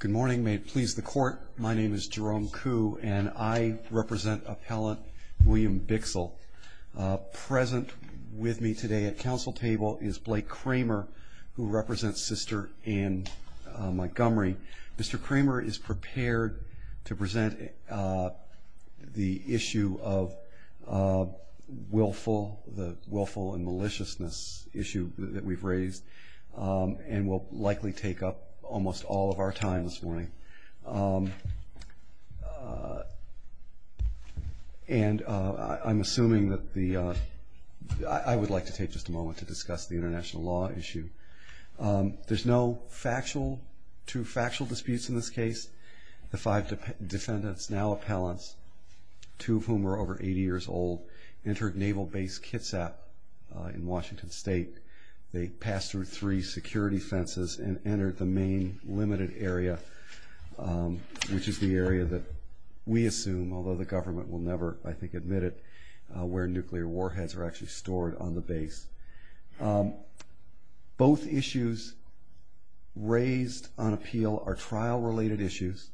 Good morning. May it please the court, my name is Jerome Kuh and I represent appellant William Bixel. Present with me today at council table is Blake Kramer who represents Sister Anne Montgomery. Mr. Kramer is prepared to present the issue of willful, the willful and maliciousness issue that we've raised and will likely take up almost all of our time this morning. And I'm assuming that the, I would like to take just a moment to discuss the international law issue. There's no factual, two factual disputes in this case. The five defendants, now appellants, two of whom are over 80 years old, entered Naval Base Kitsap in Washington State. They passed through three security fences and entered the main limited area, which is the area that we assume, although the government will never, I think, admit it, where nuclear warheads are actually stored on the base. Both issues raised on appeal are trial related issues.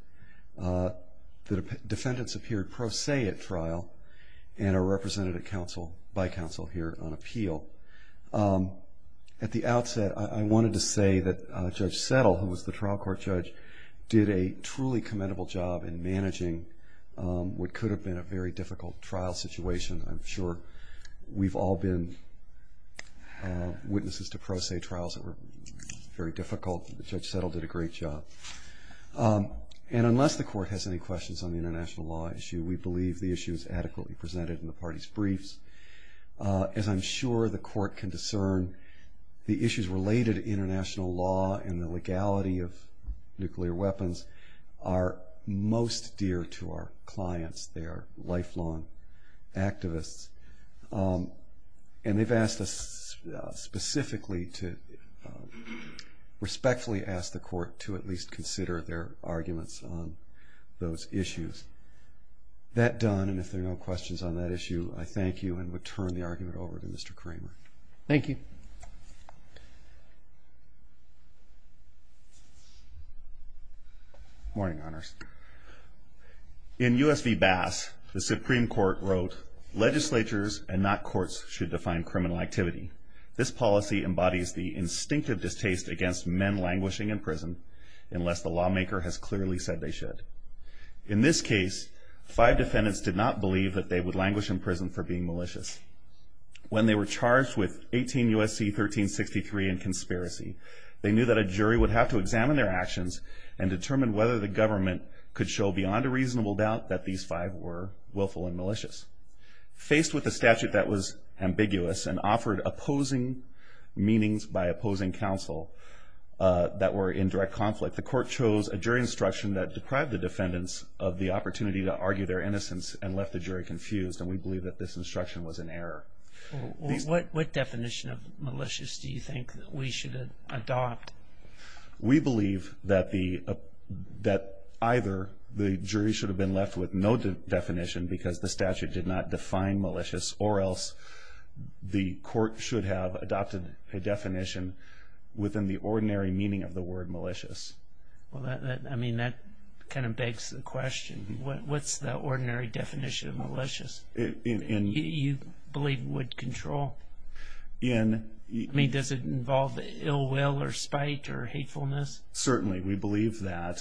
The counsel here on appeal. At the outset, I wanted to say that Judge Settle, who was the trial court judge, did a truly commendable job in managing what could have been a very difficult trial situation. I'm sure we've all been witnesses to pro se trials that were very difficult. Judge Settle did a great job. And unless the court has any questions on the international law issue, we believe the issue is adequately presented in the party's briefs. As I'm sure the court can discern, the issues related to international law and the legality of nuclear weapons are most dear to our clients. They are lifelong activists. And they've asked us specifically to respectfully ask the court to consider the issue. With that done, and if there are no questions on that issue, I thank you and would turn the argument over to Mr. Kramer. Thank you. Morning, Honors. In U.S. v. Bass, the Supreme Court wrote legislatures and not courts should define criminal activity. This policy embodies the instinctive distaste against men languishing in prison unless the lawmaker has clearly said they should. In this case, five defendants did not believe that they would languish in prison for being malicious. When they were charged with 18 U.S.C. 1363 in conspiracy, they knew that a jury would have to examine their actions and determine whether the government could show beyond a reasonable doubt that these five were willful and malicious. Faced with a statute that was ambiguous and offered opposing meanings by opposing counsel that were in direct conflict, the court chose a jury instruction that deprived the defendants of the opportunity to argue their innocence and left the jury confused. And we believe that this instruction was an error. What definition of malicious do you think we should adopt? We believe that either the jury should have been left with no definition because the statute did not define the ordinary meaning of the word malicious. Well, I mean, that kind of begs the question. What's the ordinary definition of malicious? You believe would control? I mean, does it involve ill will or spite or hatefulness? Certainly. We believe that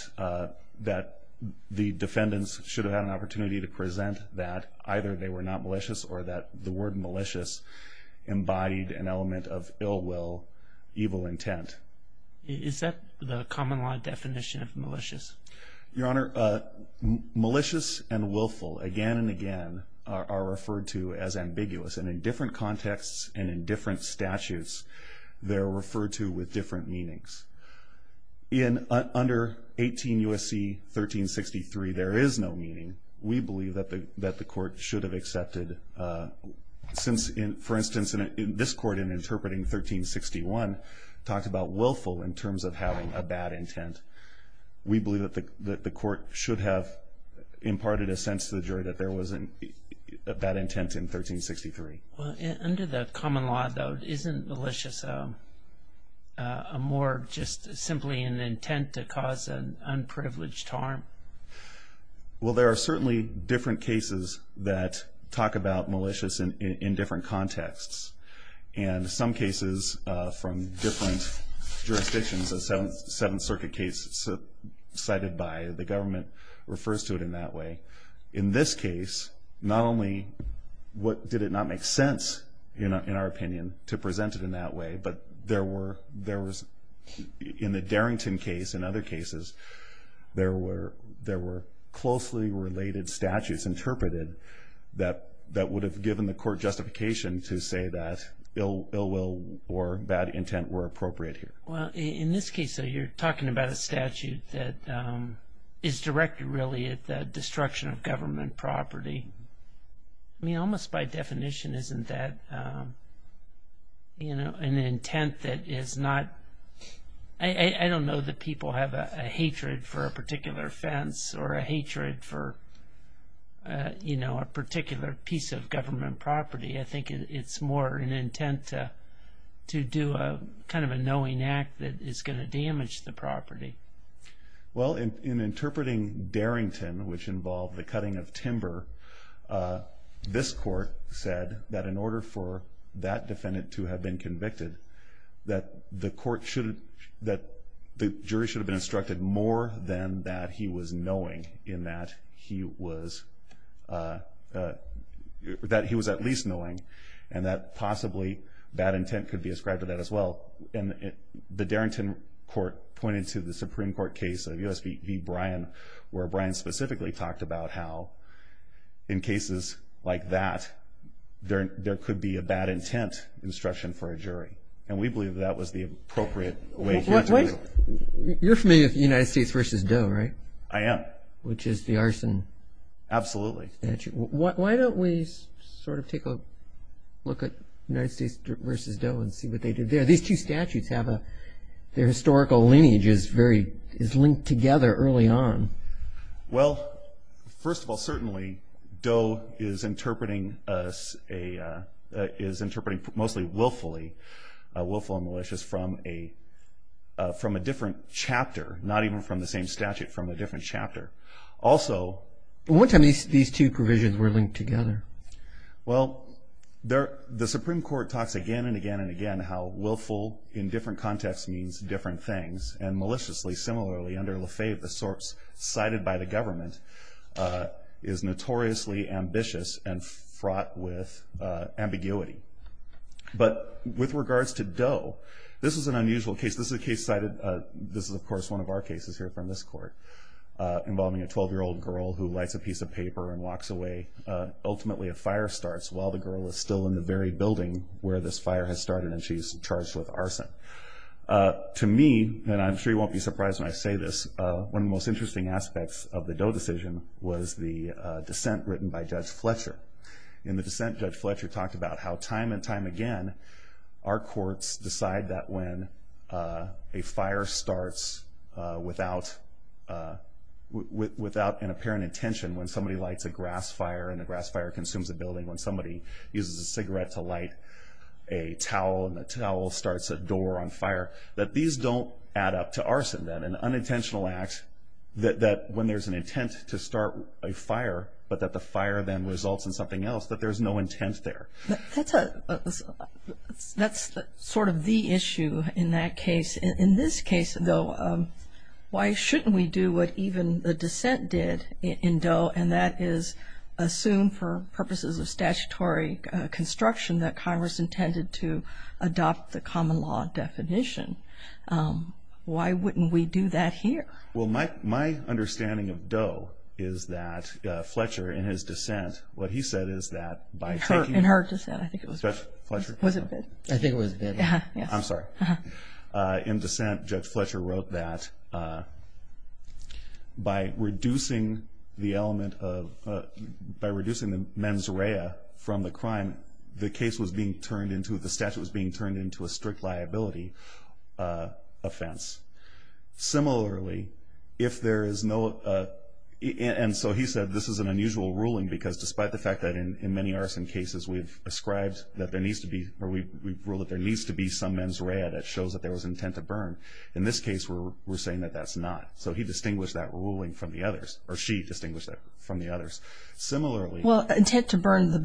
the defendants should have had an opportunity to present that either they were not malicious or that the word malicious embodied an element of ill will, evil intent. Is that the common law definition of malicious? Your Honor, malicious and willful again and again are referred to as ambiguous. And in different contexts and in different statutes, they're referred to with different meanings. In under 18 U.S.C. 1363, there is no meaning. We believe that the court should have accepted since, for instance, in this court, in interpreting 1361, talked about willful in terms of having a bad intent. We believe that the court should have imparted a sense to the jury that there was a bad intent in 1363. Under the common law, though, isn't malicious more just simply an intent to cause an unprivileged harm? Well, there are certainly different cases that talk about malicious in different contexts. And some cases from different jurisdictions, the Seventh Circuit case cited by the government refers to it in that way. In this case, not only did it not make sense, in our opinion, to present it in that way, but in the related statutes interpreted, that would have given the court justification to say that ill will or bad intent were appropriate here. Well, in this case, though, you're talking about a statute that is directed really at the destruction of government property. I mean, almost by definition, isn't that, you know, an intent that is not... I don't know that people have a hatred for a particular piece of government property. I think it's more an intent to do a kind of a knowing act that is going to damage the property. Well, in interpreting Darrington, which involved the cutting of timber, this court said that in order for that defendant to have been convicted, that the court should... that the jury should have been instructed more than that he was knowing, in that he was... that he was at least knowing, and that possibly bad intent could be ascribed to that as well. And the Darrington court pointed to the Supreme Court case of U.S. v. Bryan, where Bryan specifically talked about how, in cases like that, there could be a bad intent instruction for a jury. And we believe that was the case. You're familiar with the United States v. Doe, right? I am. Which is the arson statute. Absolutely. Why don't we sort of take a look at United States v. Doe and see what they did there. These two statutes have a... their historical lineage is very... is linked together early on. Well, first of all, certainly, Doe is interpreting a... is interpreting mostly willfully, willful and malicious, from a... from a different chapter, not even from the same statute, from a different chapter. Also... Well, what time these two provisions were linked together? Well, there... the Supreme Court talks again and again and again how willful, in different contexts, means different things. And maliciously, similarly, under Lefebvre, the sorts cited by the government, is notoriously ambitious and fraught with ambiguity. But with regards to Doe, this is an unusual case. This is a case cited... this is, of course, one of our cases here from this court, involving a 12-year-old girl who lights a piece of paper and walks away. Ultimately, a fire starts while the girl is still in the very building where this fire has started and she's charged with arson. To me, and I'm sure you won't be surprised when I say this, one of the most interesting aspects of the Doe decision was the dissent written by Judge Fletcher. In the dissent, Judge Fletcher talked about how time and time again, our courts decide that when a fire starts without... without an apparent intention, when somebody lights a grass fire and the grass fire consumes a building, when somebody uses a cigarette to light a towel and the towel starts a door on fire, that these don't add up to arson, that an unintentional act, that when there's an intent to start a fire, but that the fire then results in something else, that there's no intent there. That's sort of the issue in that case. In this case, though, why shouldn't we do what even the dissent did in Doe, and that is assume for purposes of statutory construction that Congress intended to adopt the common law definition? Why wouldn't we do that here? Well, my understanding of Doe is that Fletcher, in his dissent, what he said is that by taking... In her dissent, I think it was... Judge Fletcher? Was it Bid? I think it was Bid. I'm sorry. In dissent, Judge Fletcher wrote that by reducing the element of... By reducing the mens rea from the crime, the case was being turned into... The statute was being turned into a strict liability offense. Similarly, if there is no... And so he said this is an unusual ruling because despite the fact that in many arson cases, we've ascribed that there needs to be... Or we've ruled that there needs to be some mens rea that shows that there was intent to burn. In this case, we're saying that that's not. So he distinguished that ruling from the others, or she distinguished that from the others. Similarly... Well, intent to burn the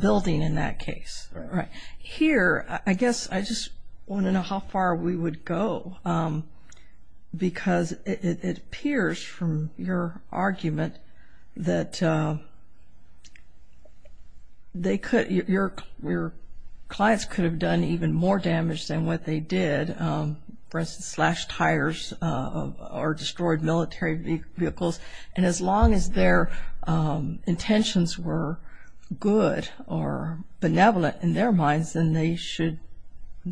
I don't know how far we would go because it appears from your argument that they could... Your clients could have done even more damage than what they did. For instance, slashed tires or destroyed military vehicles. And as long as their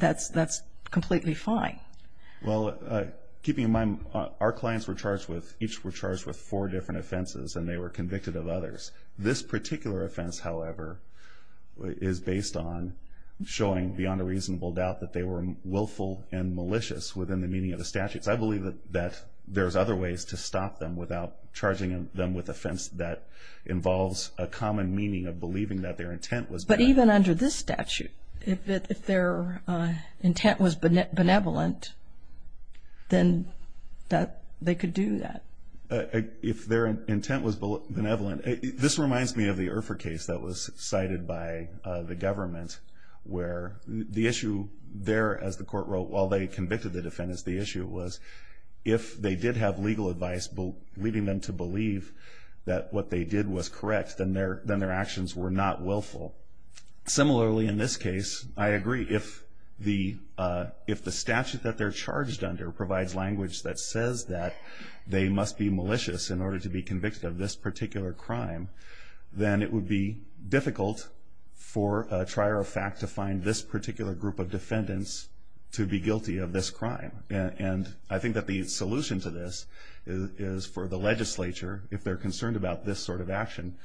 that's completely fine. Well, keeping in mind, our clients were charged with... Each were charged with four different offenses, and they were convicted of others. This particular offense, however, is based on showing beyond a reasonable doubt that they were willful and malicious within the meaning of the statutes. I believe that there's other ways to stop them without charging them with offense that involves a common meaning of believing that their intent was... But even under this statute, if their intent was benevolent, then they could do that. If their intent was benevolent... This reminds me of the Urfa case that was cited by the government, where the issue there, as the court wrote, while they convicted the defendants, the issue was if they did have legal advice leading them to believe that what they did was correct, then their actions were not willful. Similarly, in this case, I agree. If the statute that they're charged under provides language that says that they must be malicious in order to be convicted of this particular crime, then it would be difficult for a trier of fact to find this particular group of defendants to be guilty of this crime. And I think that the solution to this is for the legislature, if they're concerned about this sort of action,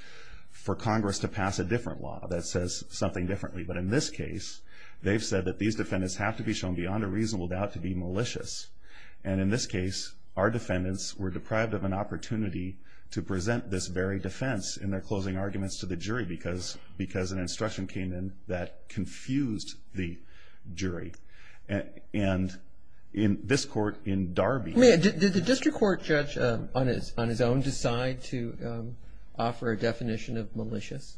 for Congress to pass a different law that says something differently. But in this case, they've said that these defendants have to be shown beyond a reasonable doubt to be malicious. And in this case, our defendants were deprived of an opportunity to present this very defense in their closing arguments to the jury because an instruction came in that confused the jury. And in this court, in Darby... I mean, did the district court judge on his own decide to offer a definition of malicious?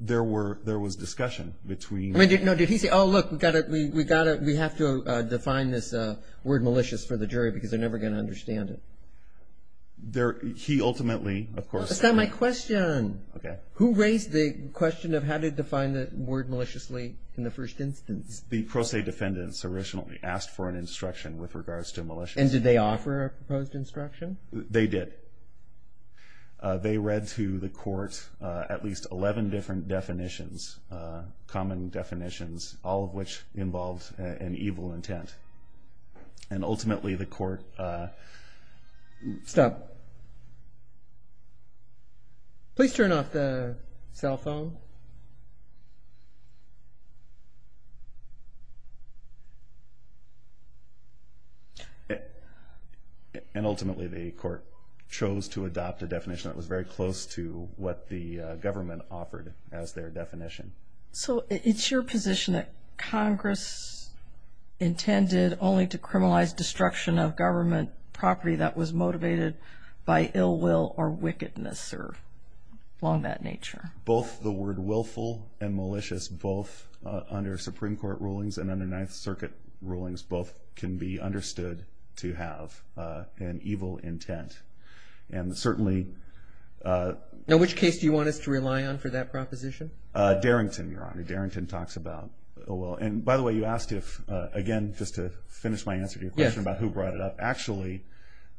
There was discussion between... No, did he say, oh, look, we have to define this word malicious for the jury because they're never going to understand it? He ultimately, of course... That's not my question. Okay. Who raised the question of how to define the word maliciously in the first instance? The pro se defendants originally asked for an instruction with regards to malicious. And did they offer a proposed instruction? They did. They read to the court at least 11 different definitions, common definitions, all of which involved an evil intent. And ultimately, the court... Stop. Please turn off the cell phone. And ultimately, the court chose to adopt a definition that was very close to what the government offered as their definition. So it's your position that Congress intended only to criminalize destruction of government property that was motivated by ill will or wickedness or along that nature? Both the word willful and malicious, both under Supreme Court rulings and under Ninth Circuit rulings, both can be understood to have an evil intent. And certainly... Which case do you want us to rely on for that proposition? Darrington, Your Honor. Darrington talks about ill will. And by the way, you asked if, again, just to finish my answer to your question about who brought it up. Actually,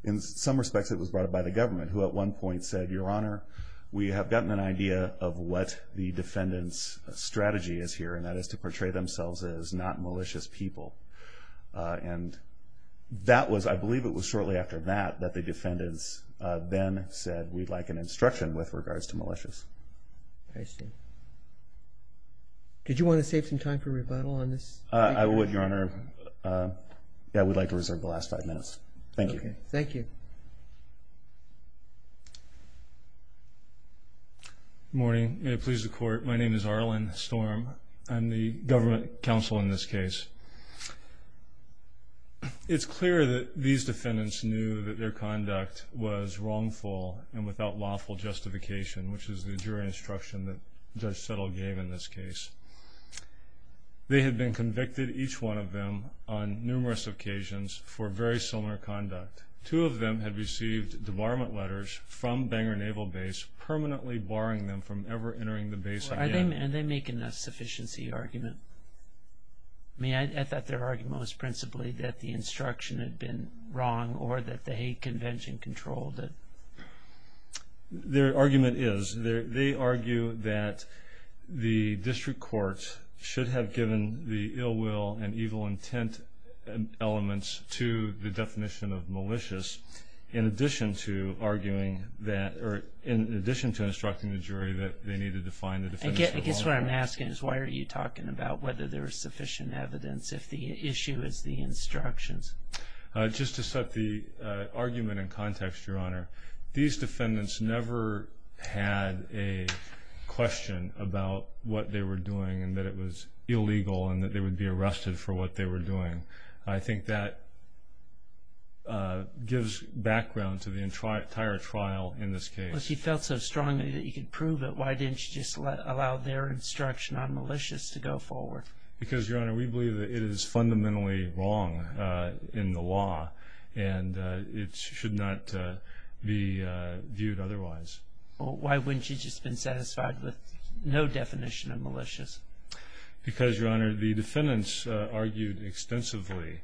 in some respects it was brought up by the government, who at one point said, Your Honor, we have gotten an idea of what the defendant's strategy is here, and that is to portray themselves as not malicious people. And that was, I believe it was shortly after that, that the defendants then said, we'd like an instruction with regards to malicious. I see. Did you want to save some time for rebuttal on this? I would, Your Honor. I would like to reserve the last five minutes. Thank you. Thank you. Good morning. May it please the Court. My name is Arlen Storm. I'm the government counsel in this case. It's clear that these defendants knew that their conduct was wrongful and without lawful justification, which is the jury instruction that Judge Settle gave in this case. They had been convicted, each one of them, on numerous occasions for very similar conduct. Two of them had received debarment letters from Bangor Naval Base permanently barring them from ever entering the base again. Are they making a sufficiency argument? I thought their argument was principally that the instruction had been wrong or that the hate convention controlled it. Their argument is, they argue that the district court should have given the ill will and evil intent elements to the definition of malicious in addition to arguing that, or in addition to instructing the jury that they needed to find the defendants for wrongful acts. I guess what I'm asking is, why are you talking about whether there is sufficient evidence if the issue is the instructions? Just to set the argument in context, Your Honor, these defendants never had a question about what they were doing and that it was illegal and that they would be arrested for what they were doing. I think that gives background to the entire trial in this case. If you felt so strongly that you could prove it, why didn't you just allow their instruction on malicious to go forward? Because Your Honor, we believe that it is fundamentally wrong in the law and it should not be viewed otherwise. Why wouldn't you just have been satisfied with no definition of malicious? Because Your Honor, the defendants argued extensively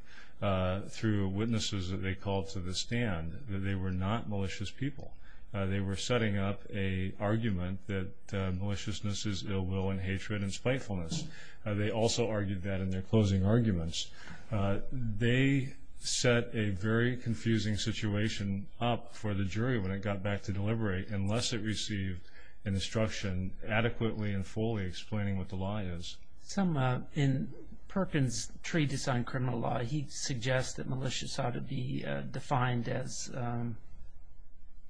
through witnesses that they called to the stand that they were not malicious people. They were setting up an argument that also argued that in their closing arguments. They set a very confusing situation up for the jury when it got back to deliberate unless it received an instruction adequately and fully explaining what the law is. In Perkins' Treatise on Criminal Law, he suggests that malicious ought to be defined as an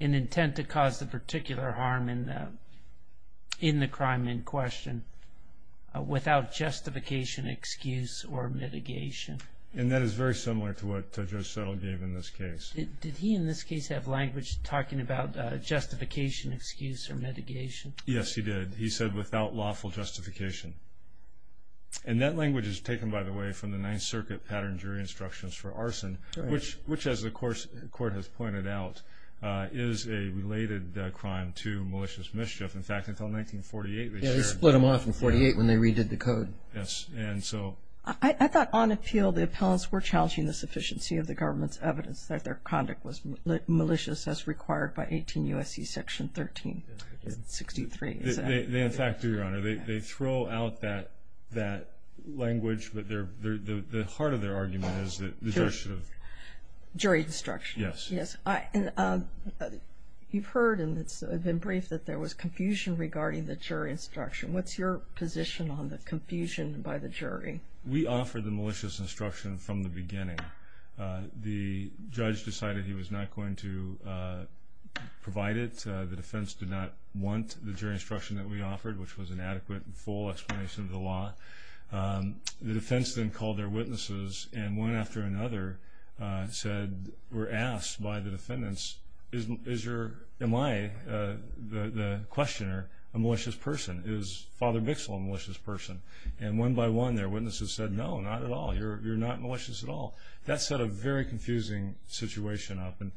intent to cause the particular harm in the crime in question without justification, excuse or mitigation. And that is very similar to what Judge Settle gave in this case. Did he in this case have language talking about justification, excuse or mitigation? Yes, he did. He said without lawful justification. And that language is taken, by the way, from the Ninth Circuit Pattern Jury Instructions for Arson, which as the Court has pointed out, is a related crime to malicious mischief. In fact, until 1948, they shared... Yeah, they split them off in 1948 when they redid the code. Yes, and so... I thought on appeal, the appellants were challenging the sufficiency of the government's evidence that their conduct was malicious as required by 18 U.S.C. Section 1363. They, in fact, do, Your Honor. They throw out that language, but the heart of their argument is that the judge should have... And you've heard, and it's been briefed, that there was confusion regarding the jury instruction. What's your position on the confusion by the jury? We offered the malicious instruction from the beginning. The judge decided he was not going to provide it. The defense did not want the jury instruction that we offered, which was an adequate and full explanation of the law. The defense then called their witnesses, and one after another were asked by the defendants, am I, the questioner, a malicious person? Is Father Bixle a malicious person? And one by one, their witnesses said, no, not at all. You're not malicious at all. That set a very confusing situation up, and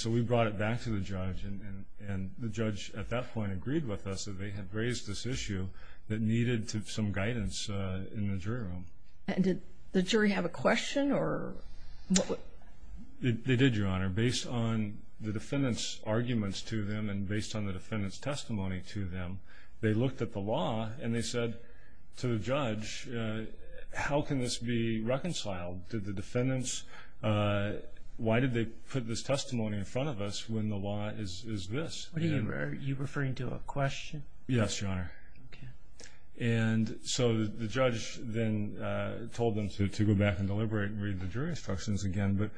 so we brought it back to the judge, and the judge at that point agreed with us that they had raised this issue that needed some guidance in the jury room. And did the jury have a question, or what... They did, Your Honor. Based on the defendant's arguments to them, and based on the defendant's testimony to them, they looked at the law, and they said to the judge, how can this be reconciled? Did the defendants... Why did they put this testimony in front of us when the law is this? You're referring to a question? Yes, Your Honor. And so the judge then told them to go back and deliberate and read the jury instructions again, but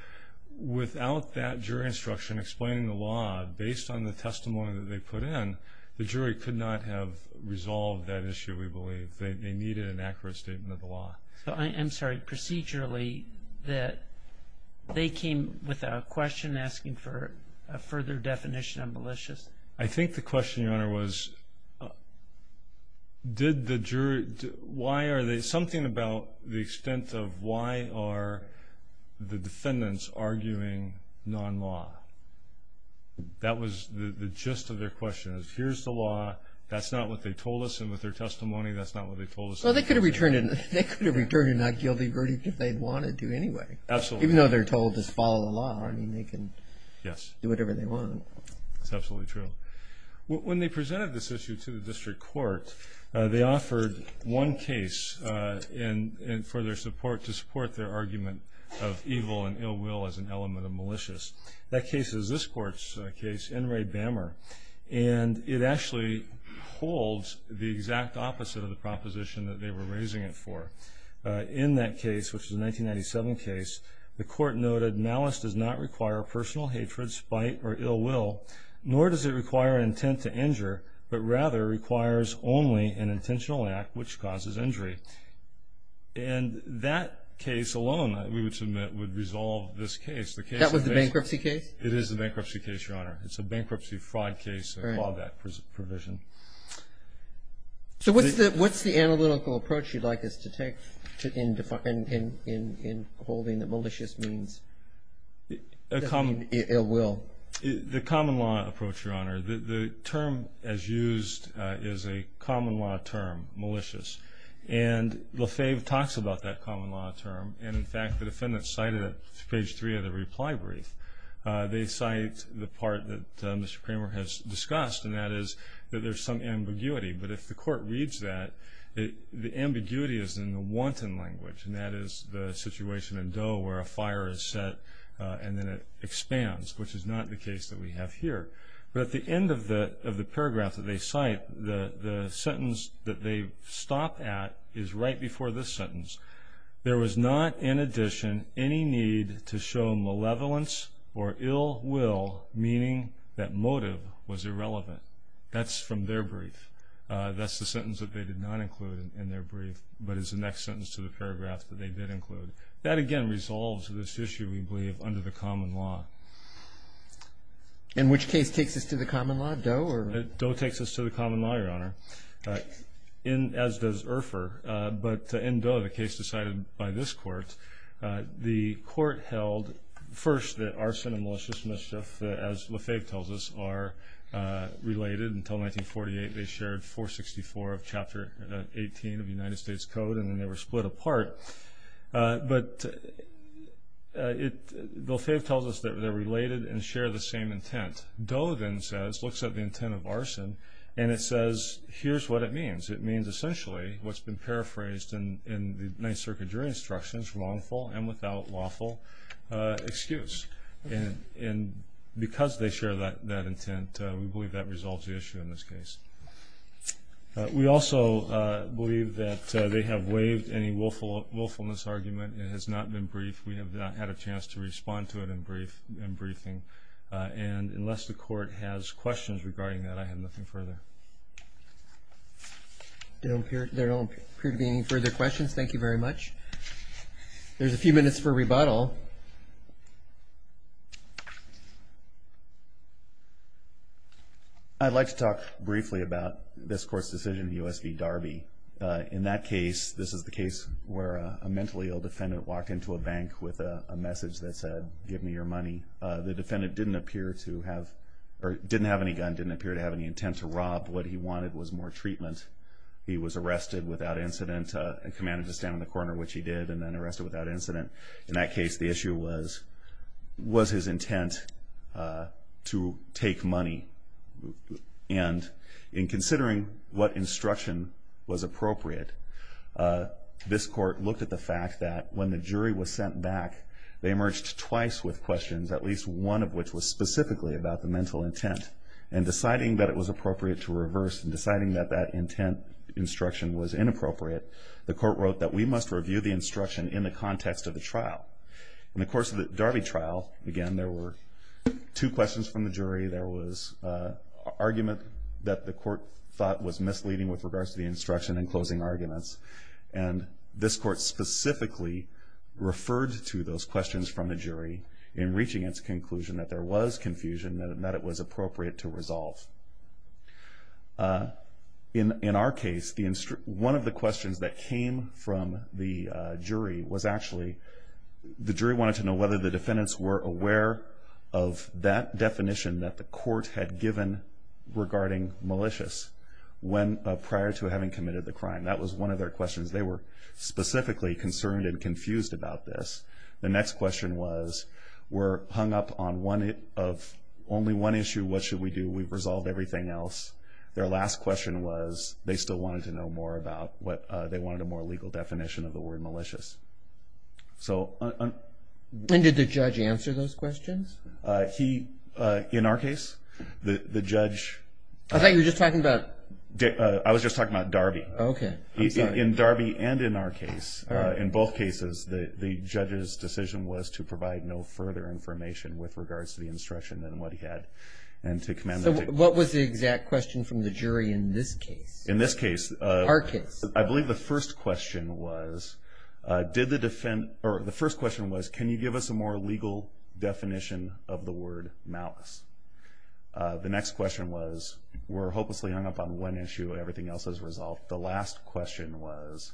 without that jury instruction explaining the law, based on the testimony that they put in, the jury could not have resolved that issue, we believe. They needed an accurate statement of the law. I'm sorry, procedurally, that they came with a question asking for a further definition of malicious? I think the question, Your Honor, was did the jury... Why are they... Something about the extent of why are the defendants arguing non-law? That was the gist of their question, is here's the law, that's not what they told us, and with their testimony, that's not what they told us. Well, they could have returned it and not given the verdict if they'd wanted to anyway. Absolutely. Even though they're told to follow the law, I mean, they can do whatever they want. That's absolutely true. When they presented this issue to the district court, they offered one case for their support, to support their argument of evil and ill will as an element of malicious. That case is this court's case, N. Ray Bammer, and it actually holds the exact opposite of the proposition that they were raising it for. In that case, which is a 1997 case, the court noted, malice does not require personal hatred, spite, or ill will, nor does it require intent to injure, but rather requires only an intentional act which causes injury. And that case alone, we would submit, would resolve this case. That was the bankruptcy case? It is the bankruptcy case, Your Honor. It's a bankruptcy fraud case, a clawback provision. So what's the analytical approach you'd like us to take in holding that malicious means ill will? The common law approach, Your Honor. The term as used is a common law term, malicious. And Lefebvre talks about that common law term, and in fact, the defendants cite it at page three of the reply brief. They cite the part that Mr. Kramer has discussed, and that is that there's some ambiguity. But if the court reads that, the ambiguity is in the wanton language, and that is the situation in Doe where a fire is set and then it expands, which is not the case that we have here. But at the end of the paragraph that they cite, the sentence that they stop at is right before this sentence. There was not, in addition, any need to show malevolence or ill will, meaning that motive was irrelevant. That's from their brief. That's the sentence that they did not include in their brief, but it's the next sentence to the paragraph that they did include. That, again, resolves this issue, we believe, under the common law. And which case takes us to the common law, Doe, or? Doe takes us to the common law, Your Honor, as does Urpher. But in Doe, the case decided by this court, the court held, first, that arson and malicious mischief, as Lefebvre tells us, are related. Until 1948, they shared 464 of Chapter 18 of the United States Code, and then they were split apart. But Lefebvre tells us that they're related and share the same intent. Doe then says, looks at the intent of arson, and it says, here's what it means. It means, essentially, what's been paraphrased in the Ninth Circuit jury instructions, wrongful and without lawful excuse. And because they share that intent, we believe that resolves the issue in this case. We also believe that they have waived any willfulness argument. It has not been briefed. We have not had a chance to respond to it in briefing. And unless the court has questions regarding that, I have nothing further. There don't appear to be any further questions. Thank you very much. There's a few minutes for rebuttal. I'd like to talk briefly about this court's decision, the U.S. v. Darby. In that case, this is the case where a mentally ill defendant walked into a bank with a message that said, give me your money. The defendant didn't appear to have, or didn't have any gun, didn't appear to have any intent to rob. What he wanted was more treatment. He was arrested without incident and commanded to stand on the corner, which he did, and then arrested without incident. In that case, the issue was, was his intent to take money? And in considering what instruction was appropriate, this court looked at the fact that when the jury was sent back, they emerged twice with questions, at least one of which was specifically about the mental intent. And deciding that it was appropriate to reverse and deciding that that intent instruction was inappropriate, the court wrote that we must review the instruction in the context of the trial. In the course of the Darby trial, again, there were two questions from the jury. There was an argument that the court thought was misleading with regards to the instruction and closing arguments. And this court specifically referred to those questions from the jury in reaching its conclusion that there was confusion and that it was appropriate to resolve. In our case, one of the questions that came from the jury was actually, the jury wanted to know whether the defendants were aware of that definition that the court had given regarding malicious prior to having committed the crime. That was one of their questions. They were hung up on only one issue, what should we do? We've resolved everything else. Their last question was, they still wanted to know more about what, they wanted a more legal definition of the word malicious. And did the judge answer those questions? In our case, the judge- I thought you were just talking about- I was just talking about Darby. Okay, I'm sorry. In Darby and in our case, in both cases, the judge's decision was to provide no further information with regards to the instruction and what he had and to command- So what was the exact question from the jury in this case? In this case- In our case. I believe the first question was, did the defend- or the first question was, can you give us a more legal definition of the word malice? The next question was, we're hopelessly hung up on one issue, everything else is resolved. The last question was,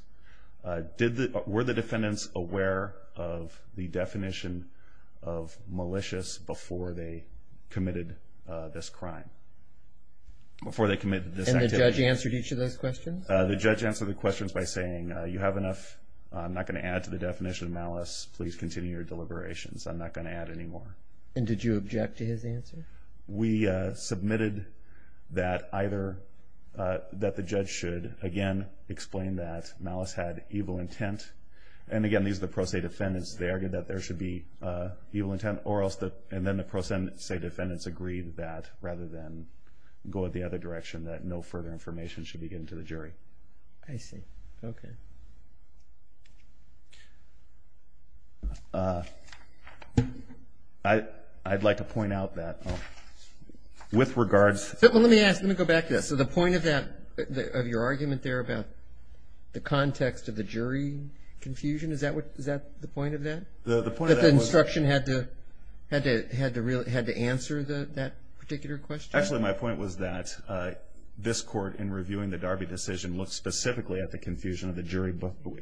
were the defendants aware of the definition of malicious before they committed this crime? Before they committed this activity? And the judge answered each of those questions? The judge answered the questions by saying, you have enough. I'm not going to add to the definition of malice. Please continue your deliberations. I'm not going to add any more. And did you object to his answer? We submitted that either- that the judge should, again, explain that malice had evil intent. And again, these are the pro se defendants. They argued that there should be evil intent or else the- and then the pro se defendants agreed that, rather than go the other direction, that no further information should be given to the jury. I see. Okay. I'd like to point out that with regards- Well, let me ask. Let me go back to that. So the point of that- of your argument there about the context of the jury confusion, is that what- is that the point of that? The point of that was- That the instruction had to answer that particular question? Actually, my point was that this court, in reviewing the Darby decision, looked specifically at the confusion of the jury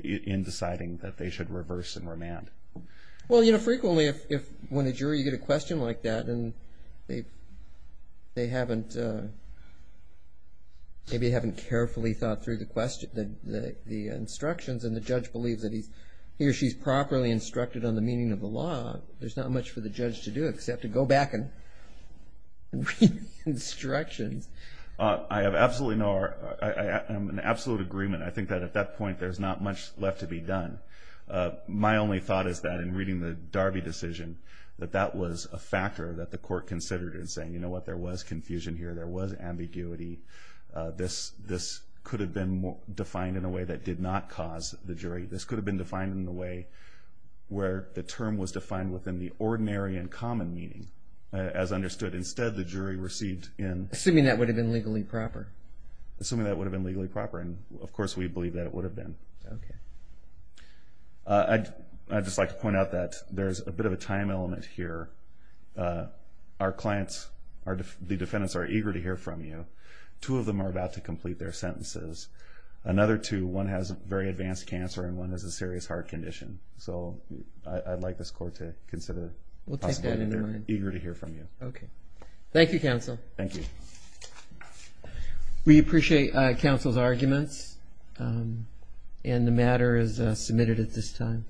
in deciding that they should reverse and remand. Well, you know, frequently if- when a jury, you get a question like that and they haven't- the instructions and the judge believes that he's- he or she's properly instructed on the meaning of the law, there's not much for the judge to do except to go back and read the instructions. I have absolutely no- I am in absolute agreement. I think that at that point there's not much left to be done. My only thought is that, in reading the Darby decision, that that was a factor that the court considered in saying, you know what, there was confusion here, there was ambiguity. This could have been defined in a way that did not cause the jury. This could have been defined in a way where the term was defined within the ordinary and common meaning. As understood, instead the jury received in- Assuming that would have been legally proper. Assuming that would have been legally proper, and of course we believe that it would have been. Okay. I'd just like to point out that there's a bit of a time element here. Our clients- the defendants are eager to hear from you. Two of them are about to complete their sentences. Another two, one has very advanced cancer and one has a serious heart condition. So I'd like this court to consider the possibility- We'll take that into account. They're eager to hear from you. Okay. Thank you, counsel. Thank you. We appreciate counsel's arguments, and the matter is submitted at this time.